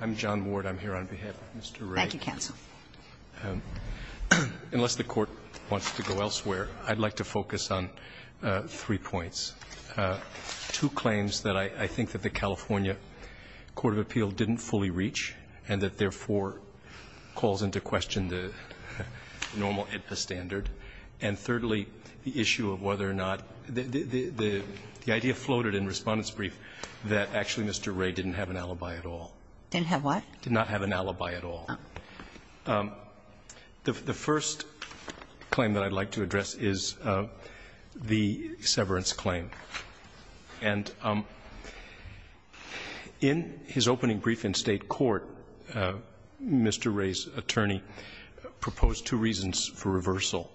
I'm John Ward. I'm here on behalf of Mr. Reay. Thank you, counsel. Unless the Court wants to go elsewhere, I'd like to focus on three points. Two claims that I think that the California court of appeal didn't fully reach and that, therefore, calls into question the normal AEDPA standard. And thirdly, the issue of whether or not the idea floated in Respondent's Brief that actually Mr. Reay didn't have an alibi at all. Didn't have what? Did not have an alibi at all. The first claim that I'd like to address is the severance claim. And in his opening brief in State court, Mr. Reay's attorney proposed two reasons for reversal.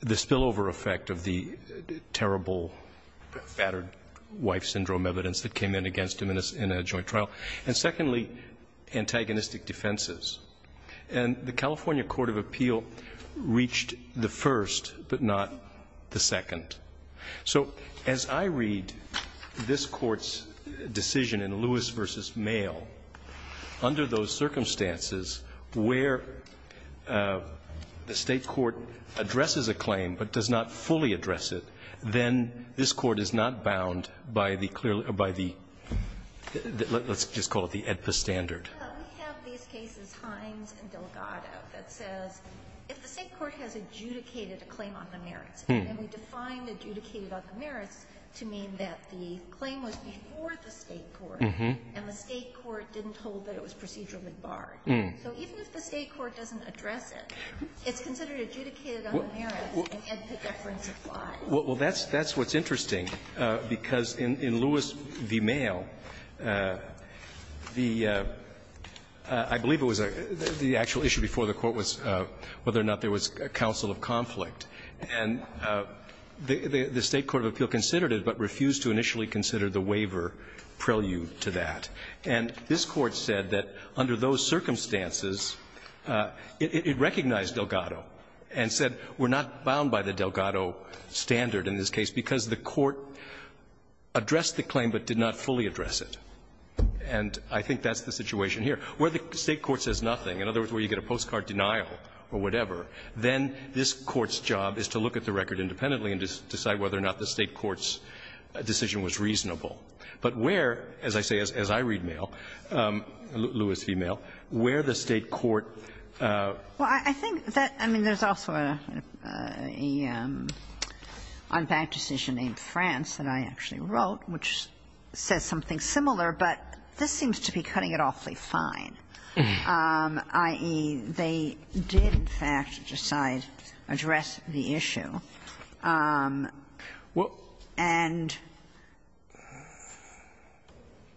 The spillover effect of the terrible, fattered wife syndrome evidence that came in against him in a joint trial. And secondly, antagonistic defenses. And the California court of appeal reached the first, but not the second. So as I read this Court's decision in Lewis v. Male, under those circumstances where the State court addresses a claim but does not fully address it, then this Court is not bound by the clearly or by the, let's just call it the AEDPA standard. We have these cases, Hines and Delgado, that says if the State court has adjudicated a claim on the merits, and we define adjudicated on the merits to mean that the claim was before the State court and the State court didn't hold that it was procedurally barred. So even if the State court doesn't address it, it's considered adjudicated on the merits, and AEDPA deference applies. Well, that's what's interesting, because in Lewis v. Male, the actual issue before the Court was whether or not there was a counsel of conflict. And the State court of appeal considered it but refused to initially consider the waiver prelude to that. And this Court said that under those circumstances, it recognized Delgado and said we're not bound by the Delgado standard in this case because the court addressed the claim but did not fully address it. And I think that's the situation here. Where the State court says nothing, in other words, where you get a postcard denial or whatever, then this Court's job is to look at the record independently and decide whether or not the State court's decision was reasonable. But where, as I say, as I read Male, Lewis v. Male, where the State court was not bound by the on-bank decision in France that I actually wrote, which says something similar. But this seems to be cutting it awfully fine, i.e., they did, in fact, decide to address the issue. And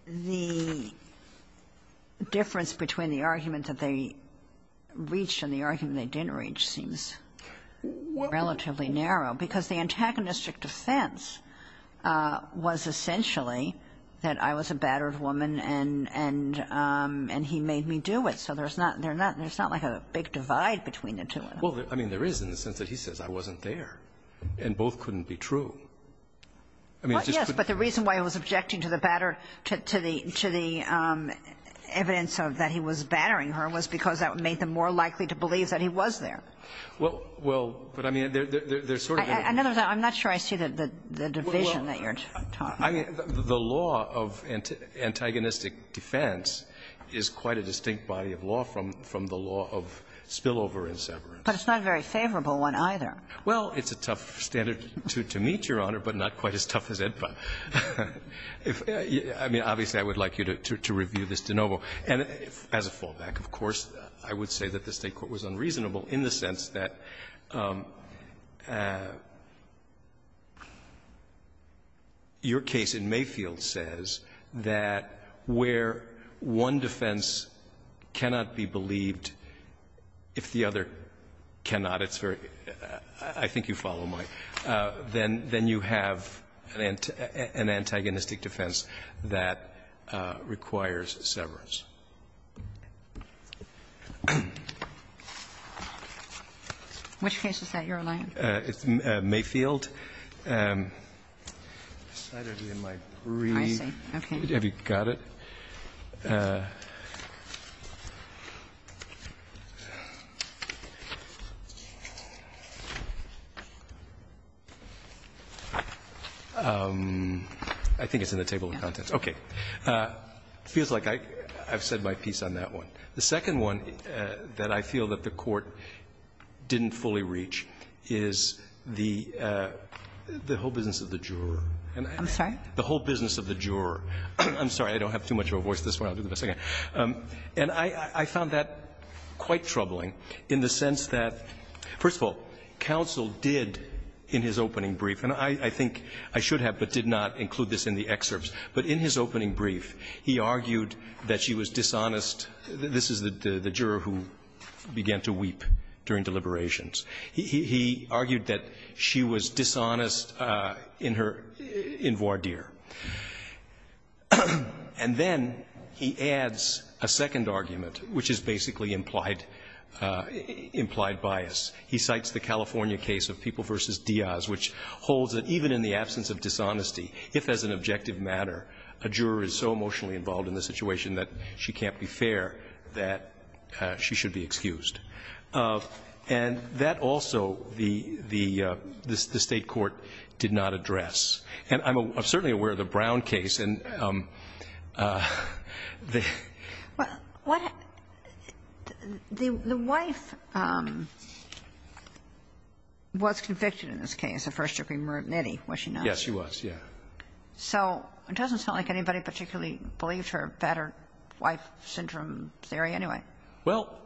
the difference between the argument that they reached and the argument they didn't narrow, because the antagonistic defense was essentially that I was a battered woman and he made me do it. So there's not like a big divide between the two of them. Well, I mean, there is in the sense that he says I wasn't there, and both couldn't be true. Well, yes, but the reason why he was objecting to the evidence that he was battering her was because that made them more likely to believe that he was there. Well, but, I mean, there's sort of a need to be clear about that. I'm not sure I see the division that you're talking about. Well, I mean, the law of antagonistic defense is quite a distinct body of law from the law of spillover and severance. But it's not a very favorable one, either. Well, it's a tough standard to meet, Your Honor, but not quite as tough as Edpa. I mean, obviously, I would like you to review this de novo. And as a fallback, of course, I would say that the State court was unreasonable in the sense that your case in Mayfield says that where one defense cannot be believed if the other cannot, it's very – I think you follow my – then you have an antagonistic defense that requires severance. Which case is that you're allying? It's Mayfield. I don't even like reading. I see. Okay. Have you got it? I think it's in the table of contents. Okay. It feels like I've said my piece on that one. The second one that I feel that the Court didn't fully reach is the whole business of the juror. I'm sorry? The whole business of the juror. I'm sorry. I don't have too much of a voice this morning. I'll do it in a second. And I found that quite troubling in the sense that, first of all, counsel did in his opening brief, and I think I should have but did not include this in the excerpts, but in his opening brief, he argued that she was dishonest. This is the juror who began to weep during deliberations. He argued that she was dishonest in her – in voir dire. And then he adds a second argument, which is basically implied – implied bias. He cites the California case of People v. Diaz, which holds that even in the absence of dishonesty, if as an objective matter, a juror is so emotionally involved in the situation that she can't be fair, that she should be excused. And that also, the State court did not address. And I'm certainly aware of the Brown case, and the – Well, what – the wife was convicted in this case, a first-degree murder of Nettie, was she not? Yes, she was, yes. So it doesn't sound like anybody particularly believed her battered wife syndrome theory anyway. Well,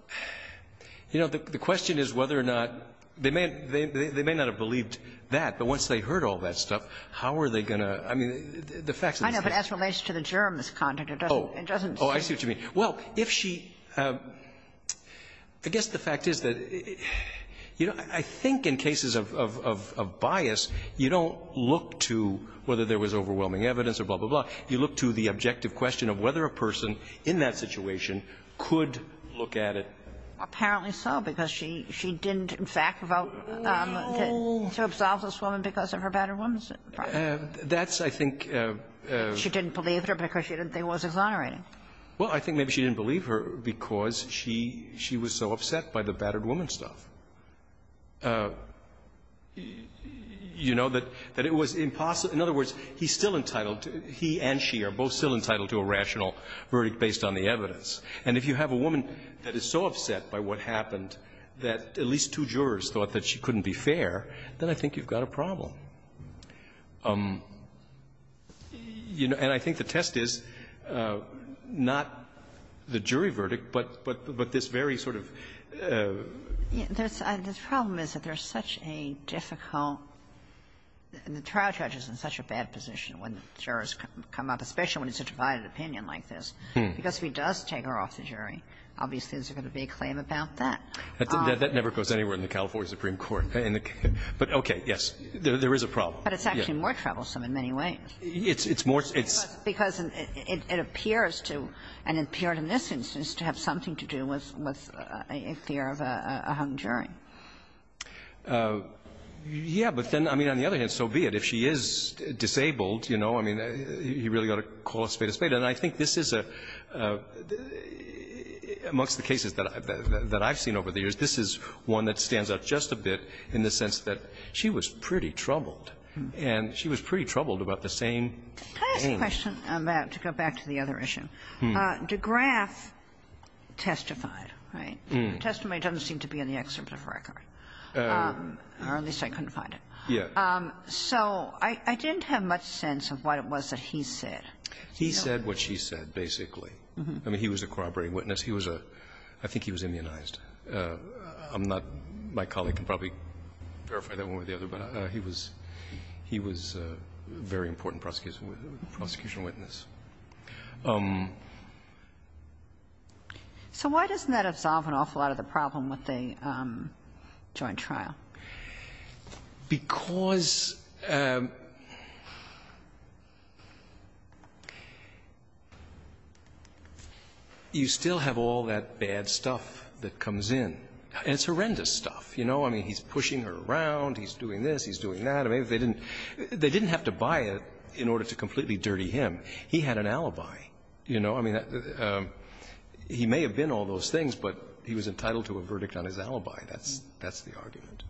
you know, the question is whether or not – they may – they may not have believed that, but once they heard all that stuff, how are they going to – I mean, the facts of this case – I know, but as relates to the juror in this context, it doesn't – it doesn't seem – Oh, I see what you mean. Well, if she – I guess the fact is that, you know, I think in cases of bias, you don't look to whether there was overwhelming evidence or blah, blah, blah. You look to the objective question of whether a person in that situation could look at it. Apparently so, because she – she didn't, in fact, vote to absolve this woman because of her battered woman syndrome. That's, I think – She didn't believe her because she didn't think it was exonerating. Well, I think maybe she didn't believe her because she – she was so upset by the battered woman stuff. You know, that it was impossible – in other words, he's still entitled to – he and she are both still entitled to a rational verdict based on the evidence. And if you have a woman that is so upset by what happened that at least two jurors thought that she couldn't be fair, then I think you've got a problem. You know, and I think the test is not the jury verdict, but this very sort of – The problem is that there's such a difficult – the trial judge is in such a bad position when jurors come up, especially when it's a divided opinion like this, because if he does take her off the jury, obviously there's going to be a claim about that. That never goes anywhere in the California Supreme Court. But, okay, yes, there is a problem. But it's actually more troublesome in many ways. It's more – it's – Because it appears to – and it appeared in this instance to have something to do with a fear of a hung jury. Yeah. But then, I mean, on the other hand, so be it. If she is disabled, you know, I mean, you really ought to call a spade a spade. And I think this is a – amongst the cases that I've seen over the years, this is one that stands out just a bit in the sense that she was pretty troubled. And she was pretty troubled about the same thing. Can I ask a question on that to go back to the other issue? DeGraff testified, right? The testimony doesn't seem to be in the excerpt of the record, or at least I couldn't find it. Yeah. So I didn't have much sense of what it was that he said. He said what she said, basically. I mean, he was a corroborating witness. He was a – I think he was immunized. I'm not – my colleague can probably verify that one way or the other, but he was a very important prosecution – prosecution witness. So why doesn't that absolve an awful lot of the problem with the joint trial? Because you still have all that bad stuff that comes in. And it's horrendous stuff, you know. I mean, he's pushing her around, he's doing this, he's doing that. I mean, they didn't have to buy it in order to completely dirty him. He had an alibi, you know. I mean, he may have been all those things, but he was entitled to a verdict on his alibi. That's the argument.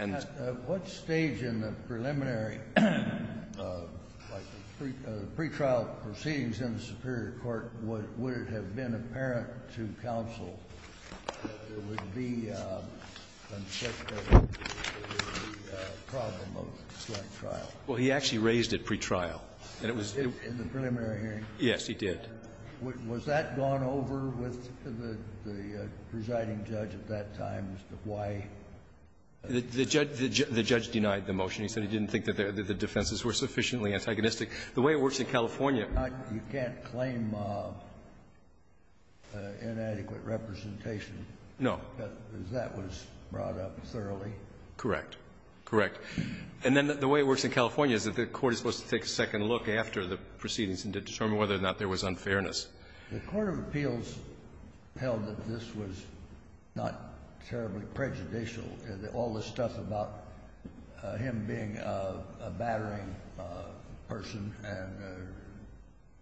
And the other thing is, what stage in the preliminary, like the pretrial proceedings in the superior court, would it have been apparent to counsel that there would be a problem of the joint trial? Well, he actually raised it pretrial. And it was – In the preliminary hearing? Yes, he did. Was that gone over with the presiding judge at that time as to why? The judge denied the motion. He said he didn't think that the defenses were sufficiently antagonistic. The way it works in California – You can't claim inadequate representation. No. Because that was brought up thoroughly. Correct. Correct. And then the way it works in California is that the court is supposed to take a second look after the proceedings and determine whether or not there was unfairness. The court of appeals held that this was not terribly prejudicial, all the stuff about him being a battering person and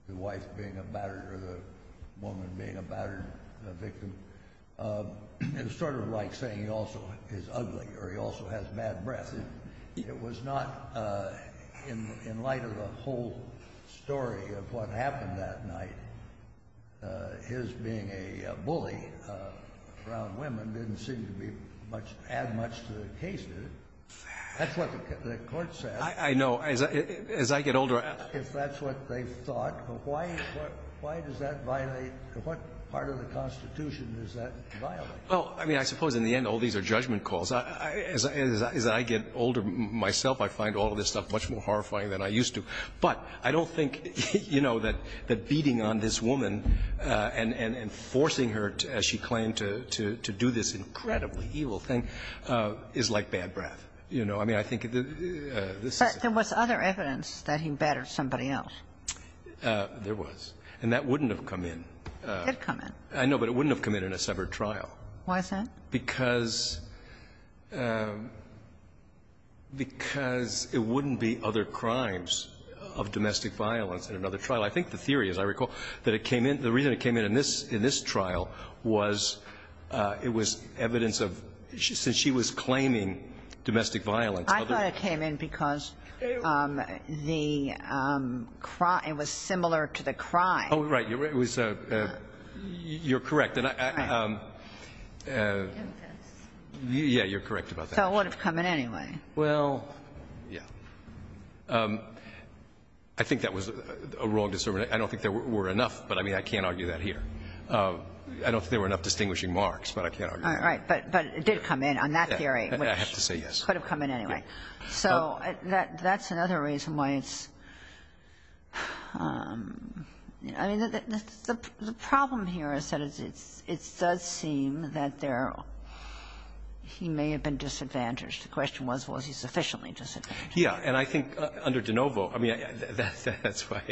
the wife being a batterer or the woman being a battered victim is sort of like saying he also is ugly or he also has bad breath. It was not – in light of the whole story of what happened that night, his being a bully around women didn't seem to be much – add much to the case, did it? That's what the court said. I know. As I get older, I ask. If that's what they thought, why – why does that violate – what part of the Constitution does that violate? Well, I mean, I suppose in the end, all these are judgment calls. As I get older myself, I find all of this stuff much more horrifying than I used to. But I don't think, you know, that beating on this woman and forcing her, as she claimed to do this incredibly evil thing, is like bad breath. You know, I mean, I think this is – But there was other evidence that he battered somebody else. There was. And that wouldn't have come in. It did come in. I know, but it wouldn't have come in in a severed trial. Why is that? Because – because it wouldn't be other crimes of domestic violence in another trial. I think the theory, as I recall, that it came in – the reason it came in in this trial was it was evidence of – since she was claiming domestic violence, other than that, the – it was similar to the crime. Oh, right. It was – you're correct. And I – yeah, you're correct about that. So it would have come in anyway. Well, yeah. I think that was a wrong discernment. I don't think there were enough, but, I mean, I can't argue that here. I don't think there were enough distinguishing marks, but I can't argue that. All right. But it did come in on that theory. I have to say yes. It could have come in anyway. So that's another reason why it's – I mean, the problem here is that it's – it does seem that there – he may have been disadvantaged. The question was, was he sufficiently disadvantaged? Yeah. And I think under De Novo, I mean, that's why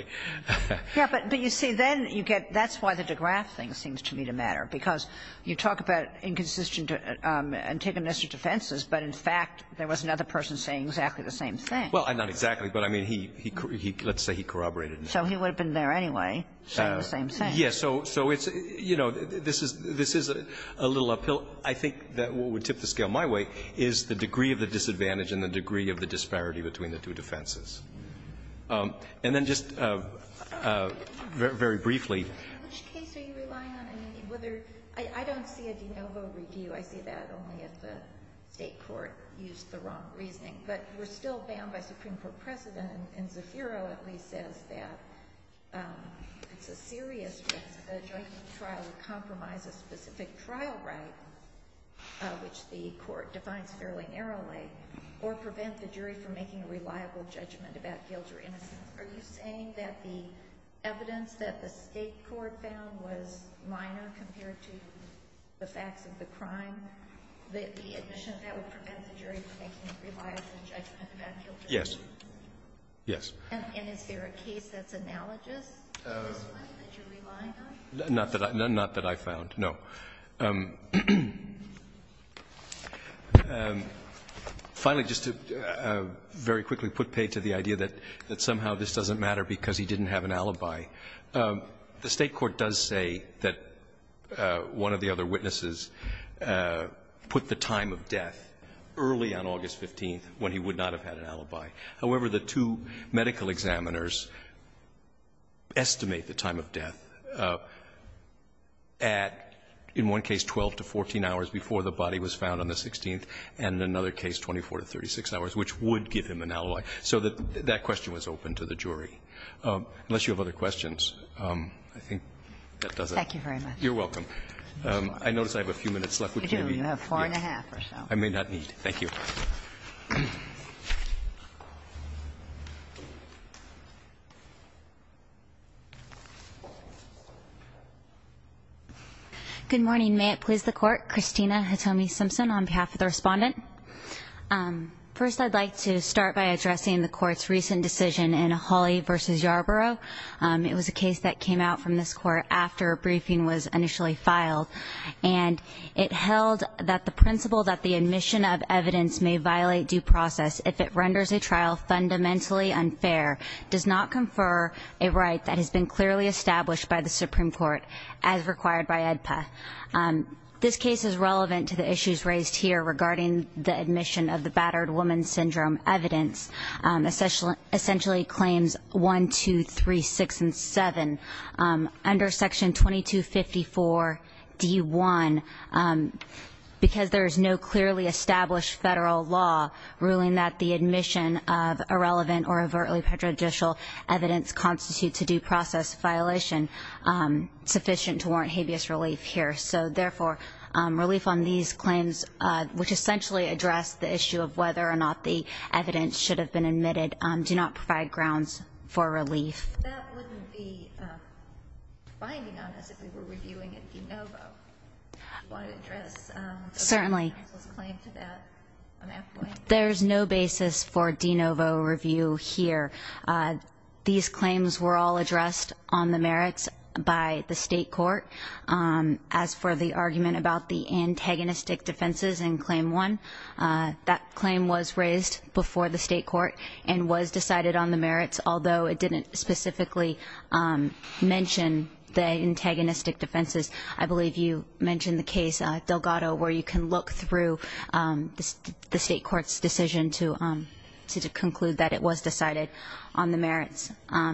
– Yeah. But you see, then you get – that's why the de Graaf thing seems to me to matter. Because you talk about inconsistent antagonistic defenses, but in fact, there was another person saying exactly the same thing. Well, not exactly, but, I mean, he – let's say he corroborated. So he would have been there anyway saying the same thing. Yeah. So it's – you know, this is a little uphill. I think that what would tip the scale my way is the degree of the disadvantage and the degree of the disparity between the two defenses. And then just very briefly – Which case are you relying on? I mean, whether – I don't see a De Novo review. I see that only if the state court used the wrong reasoning. But we're still bound by Supreme Court precedent. And Zafiro at least says that it's a serious risk that a joint trial would compromise a specific trial right, which the court defines fairly narrowly, or prevent the jury from making a reliable judgment about guilt or innocence. Are you saying that the evidence that the state court found was minor compared to the facts of the crime, that the admission of that would prevent the jury from making a reliable judgment about guilt or innocence? Yes. Yes. And is there a case that's analogous to this one that you're relying on? Not that I – not that I found, no. Finally, just to very quickly put paid to the idea that somehow this doesn't matter because he didn't have an alibi, the state court does say that one of the other witnesses put the time of death early on August 15th when he would not have had an alibi. However, the two medical examiners estimate the time of death at, in one case, 12 to 14 hours before the body was found on the 16th, and in another case, 24 to 36 hours, which would give him an alibi. So that question was open to the jury. Unless you have other questions, I think that does it. Thank you very much. You're welcome. I notice I have a few minutes left. You do. You have four and a half or so. I may not need. Thank you. Good morning. May it please the Court. Christina Hitomi Simpson on behalf of the Respondent. First, I'd like to start by addressing the Court's recent decision in Hawley v. Yarborough. It was a case that came out from this Court after a briefing was initially filed, and it held that the principle that the admission of evidence may violate due process if it renders a trial fundamentally unfair does not confer a right that has been clearly established by the Supreme Court as required by AEDPA. This case is relevant to the issues raised here regarding the admission of the battered woman syndrome evidence, essentially claims 1, 2, 3, 6, and 7. Under Section 2254D1, because there is no clearly established federal law ruling that the admission of irrelevant or overtly prejudicial evidence constitutes a due process violation sufficient to warrant habeas relief here. So, therefore, relief on these claims, which essentially address the issue of whether or not the evidence should have been admitted, do not provide grounds for relief. That wouldn't be a finding on us if we were reviewing in DeNovo. Do you want to address— Certainly. —the claim to that on that point? There's no basis for DeNovo review here. These claims were all addressed on the merits by the state court. As for the argument about the antagonistic defenses in claim 1, that claim was raised before the state court and was decided on the merits, although it didn't specifically mention the antagonistic defenses. I believe you mentioned the case Delgado, where you can look through the state court's decision to conclude that it was decided on the merits. In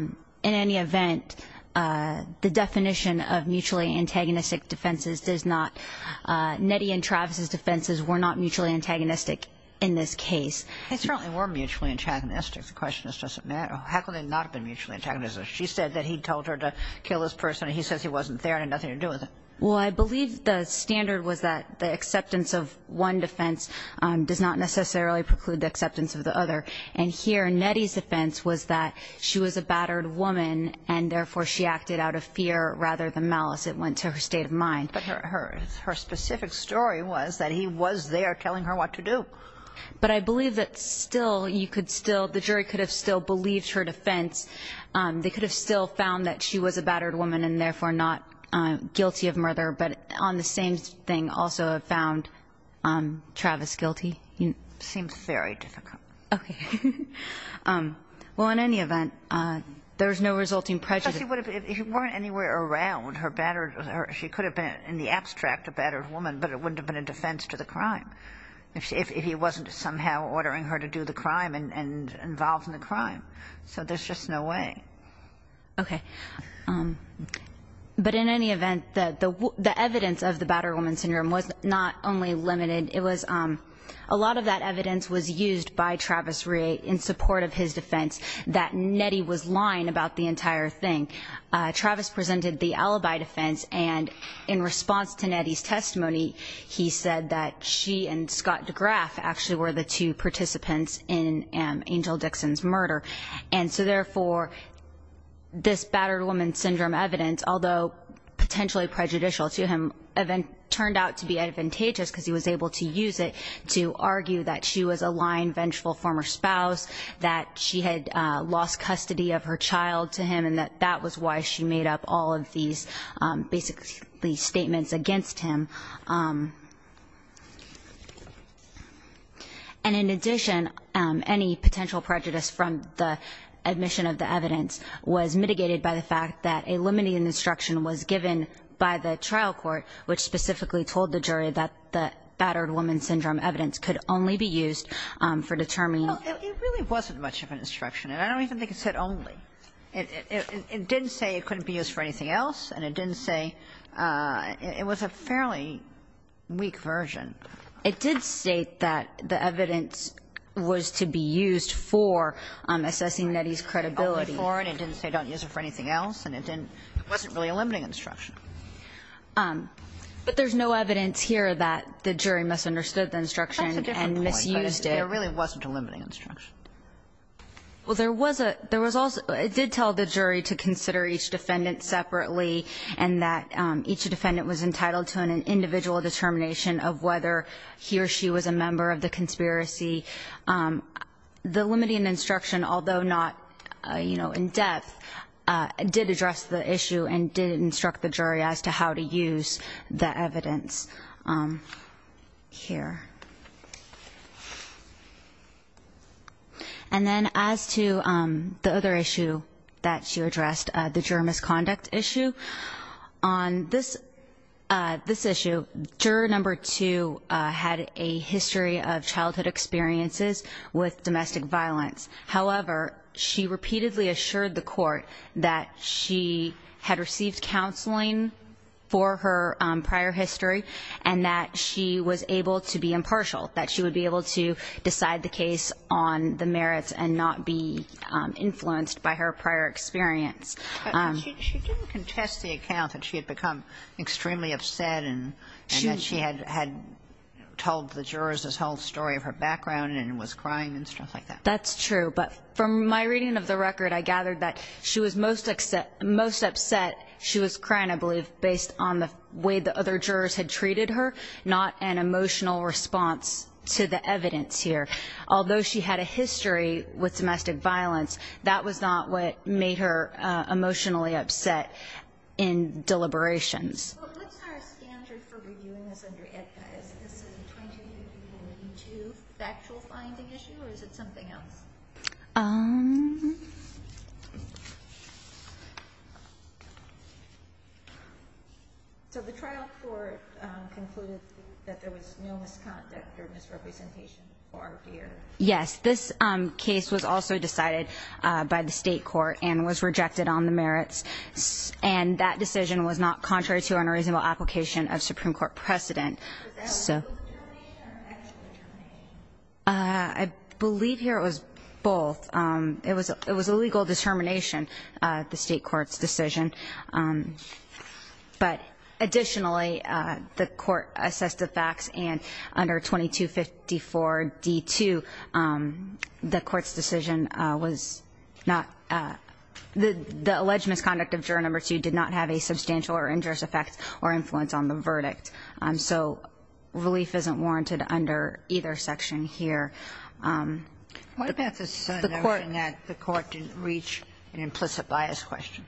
any event, the definition of mutually antagonistic defenses does not—Nettie and Travis's defenses were not mutually antagonistic in this case. They certainly were mutually antagonistic. The question is, does it matter? How could they not have been mutually antagonistic? She said that he told her to kill this person, and he says he wasn't there and had nothing to do with it. Well, I believe the standard was that the acceptance of one defense does not necessarily preclude the acceptance of the other. And here, Nettie's defense was that she was a battered woman, and therefore she acted out of fear rather than malice. It went to her state of mind. But her specific story was that he was there telling her what to do. But I believe that still, you could still—the jury could have still believed her defense. They could have still found that she was a battered woman and, therefore, not guilty of murder, but on the same thing, also have found Travis guilty. It seems very difficult. Okay. Well, in any event, there was no resulting prejudice. Because he would have—if he weren't anywhere around, her battered—she could have been in the abstract a battered woman, but it wouldn't have been a defense to the crime, if he wasn't somehow ordering her to do the crime and involved in the crime. So there's just no way. Okay. But in any event, the evidence of the battered woman syndrome was not only limited. It was—a lot of that evidence was used by Travis Rhea in support of his defense, that Nettie was lying about the entire thing. Travis presented the alibi defense, and in response to Nettie's testimony, he said that she and Scott DeGraff actually were the two participants in Angel Dixon's murder. And so, therefore, this battered woman syndrome evidence, although potentially prejudicial to him, turned out to be advantageous because he was able to use it to argue that she was a lying, vengeful former spouse, that she had lost custody of her child to him, and that that was why she made up all of these basically statements against him. And in addition, any potential prejudice from the admission of the evidence was mitigated by the fact that a limiting instruction was given by the trial court, which specifically told the jury that the battered woman syndrome evidence could only be used for determining It really wasn't much of an instruction, and I don't even think it said only. It didn't say it couldn't be used for anything else, and it didn't say – it was a fairly weak version. It did state that the evidence was to be used for assessing Nettie's credibility. Only for, and it didn't say don't use it for anything else, and it didn't – it wasn't really a limiting instruction. But there's no evidence here that the jury misunderstood the instruction and misused it. There really wasn't a limiting instruction. Well, there was a – there was also – it did tell the jury to consider each defendant separately, and that each defendant was entitled to an individual determination of whether he or she was a member of the conspiracy. The limiting instruction, although not, you know, in depth, did address the issue and did instruct the jury as to how to use the evidence here. And then as to the other issue that she addressed, the juror misconduct issue, on this issue, juror number two had a history of childhood experiences with domestic violence. However, she repeatedly assured the court that she had received counseling for her prior history and that she was able to be impartial, that she would be able to decide the case on the merits and not be influenced by her prior experience. But she didn't contest the account that she had become extremely upset and that she had told the jurors this whole story of her background and was crying and stuff like that. That's true. But from my reading of the record, I gathered that she was most upset that she was crying, I believe, based on the way the other jurors had treated her, not an emotional response to the evidence here. Although she had a history with domestic violence, that was not what made her emotionally upset in deliberations. Well, what's our standard for reviewing this under EDCA? Is this a 20-42 factual finding issue, or is it something else? So the trial court concluded that there was no misconduct or misrepresentation or fear. Yes. This case was also decided by the state court and was rejected on the merits, and that decision was not contrary to an unreasonable application of Supreme Court precedent. Was that a legal determination or an actual determination? I believe here it was both. It was a legal determination, the state court's decision. But additionally, the court assessed the facts, and under 2254d-2, the court's decision was not the alleged misconduct of juror number two did not have a substantial or injurious effect or influence on the verdict. So relief isn't warranted under either section here. What about the notion that the court didn't reach an implicit bias question?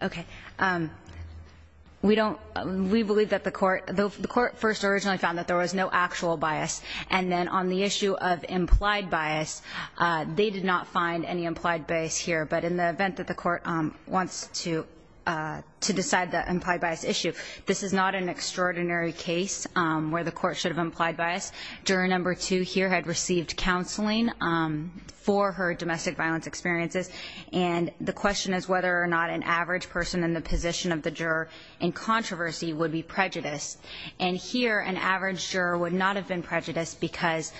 Okay. We believe that the court first originally found that there was no actual bias, and then on the issue of implied bias, they did not find any implied bias here. But in the event that the court wants to decide the implied bias issue, this is not an extraordinary case where the court should have implied bias. Juror number two here had received counseling for her domestic violence experiences, and the question is whether or not an average person in the position of the juror in controversy would be prejudiced. And here, an average juror would not have been prejudiced because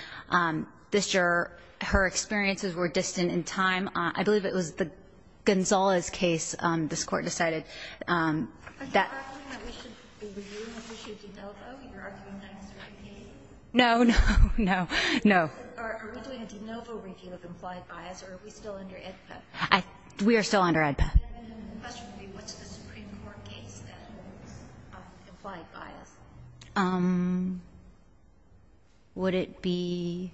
this juror, her experiences were distant in time. I believe it was Gonzales' case this Court decided that. Are you arguing that we should review the issue of de novo? Are you arguing that it's okay? No, no, no, no. Are we doing a de novo review of implied bias, or are we still under AEDPA? We are still under AEDPA. And the question would be, what's the Supreme Court case that holds implied bias? Would it be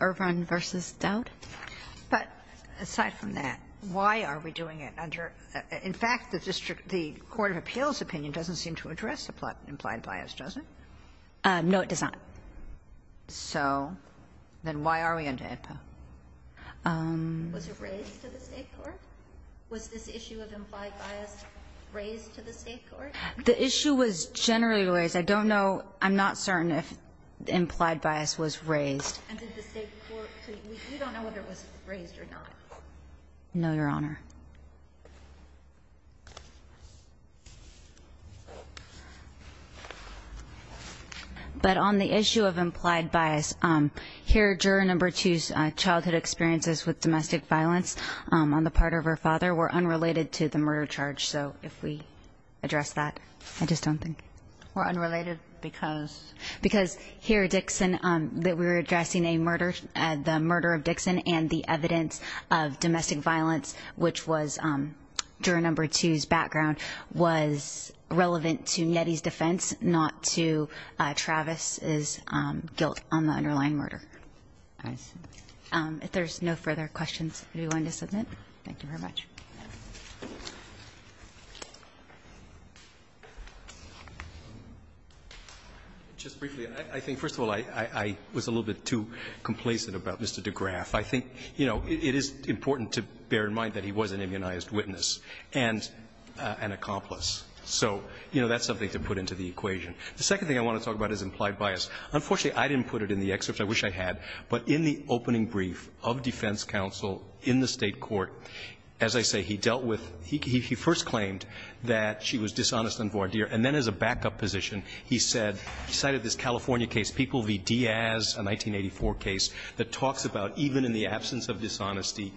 Irvin v. Dowd? But aside from that, why are we doing it under? In fact, the district the court of appeals opinion doesn't seem to address implied bias, does it? No, it does not. So then why are we under AEDPA? Was it raised to the State court? Was this issue of implied bias raised to the State court? The issue was generally raised. I don't know. I'm not certain if implied bias was raised. And did the State court? So you don't know whether it was raised or not? No, Your Honor. But on the issue of implied bias, here, juror number two's childhood experiences with domestic violence on the part of her father were unrelated to the murder charge. So if we address that, I just don't think. Were unrelated because? Because here, Dixon, that we were addressing a murder, the murder of Dixon which was juror number two's background was relevant to Nettie's defense, not to Travis's guilt on the underlying murder. I see. If there's no further questions, anyone to submit? Thank you very much. Just briefly, I think, first of all, I was a little bit too complacent about Mr. DeGraff. I think, you know, it is important to bear in mind that he was an immunized witness and an accomplice. So, you know, that's something to put into the equation. The second thing I want to talk about is implied bias. Unfortunately, I didn't put it in the excerpt. I wish I had. But in the opening brief of defense counsel in the State court, as I say, he dealt with he first claimed that she was dishonest and voir dire. And then as a backup position, he said, he cited this California case, People v. Diaz, a 1984 case, that talks about even in the absence of dishonesty,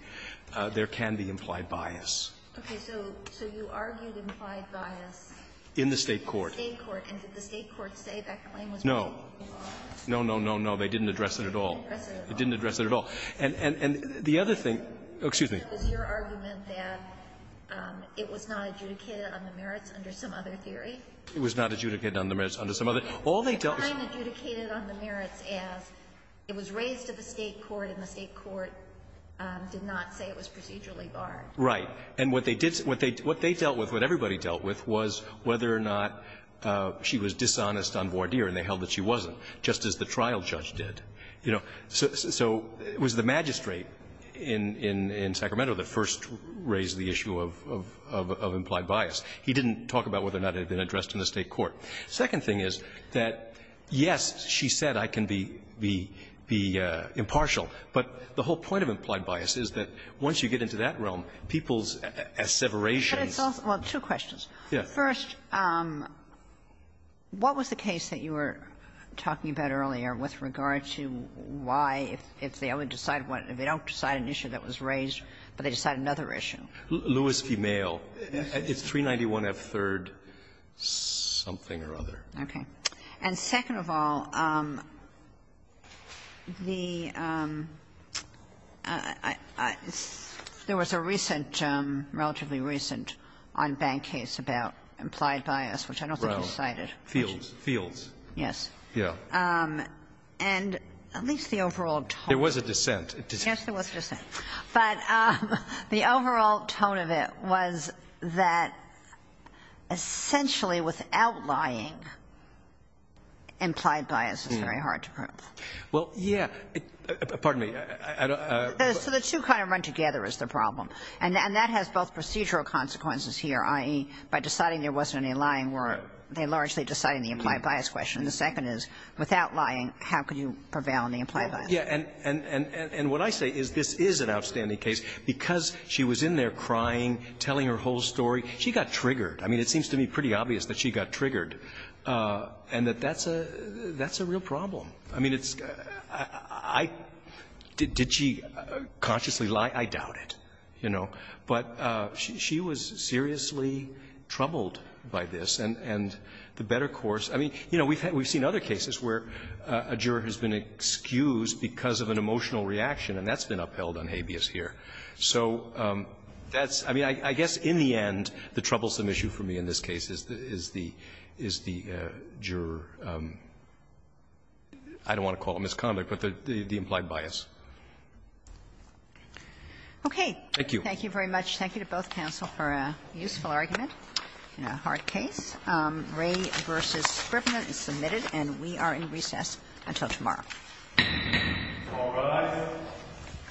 there can be implied bias. Okay. So you argued implied bias. In the State court. In the State court. And did the State court say that claim was made? No. No, no, no, no. They didn't address it at all. They didn't address it at all. It didn't address it at all. And the other thing --- Excuse me. Was your argument that it was not adjudicated on the merits under some other theory? It was not adjudicated on the merits under some other. All they dealt with--- It was fine adjudicated on the merits as it was raised to the State court, and the State court did not say it was procedurally barred. Right. And what they did, what they dealt with, what everybody dealt with, was whether or not she was dishonest and voir dire, and they held that she wasn't, just as the trial judge did. You know, so it was the magistrate in Sacramento that first raised the issue of implied bias. He didn't talk about whether or not it had been addressed in the State court. The second thing is that, yes, she said I can be impartial, but the whole point of implied bias is that once you get into that realm, people's asseverations--- Well, two questions. First, what was the case that you were talking about earlier with regard to why if they only decide one, if they don't decide an issue that was raised, but they decide another issue? Lewis v. Mayo. It's 391F3rd something or other. Okay. And second of all, the --there was a recent, relatively recent, on-bank case about implied bias, which I don't think you cited. Fields. Fields. Yes. Yes. And at least the overall tone--. There was a dissent. Yes, there was a dissent. But the overall tone of it was that essentially without lying, implied bias is very hard to prove. Well, yes. Pardon me. I don't--. So the two kind of run together is the problem. And that has both procedural consequences here, i.e., by deciding there wasn't any lying were they largely deciding the implied bias question. And the second is, without lying, how could you prevail on the implied bias? Yeah. And what I say is this is an outstanding case. Because she was in there crying, telling her whole story, she got triggered. I mean, it seems to me pretty obvious that she got triggered and that that's a real problem. I mean, it's got to be--. Did she consciously lie? I doubt it, you know. But she was seriously troubled by this. And the better course--. I mean, you know, we've had we've seen other cases where a juror has been excused because of an emotional reaction, and that's been upheld on habeas here. So that's--. I mean, I guess in the end, the troublesome issue for me in this case is the juror I don't want to call it misconduct, but the implied bias. Okay. Thank you. Thank you very much. Thank you to both counsel for a useful argument in a hard case. Ray v. Scrivner is submitted, and we are in recess until tomorrow. All rise.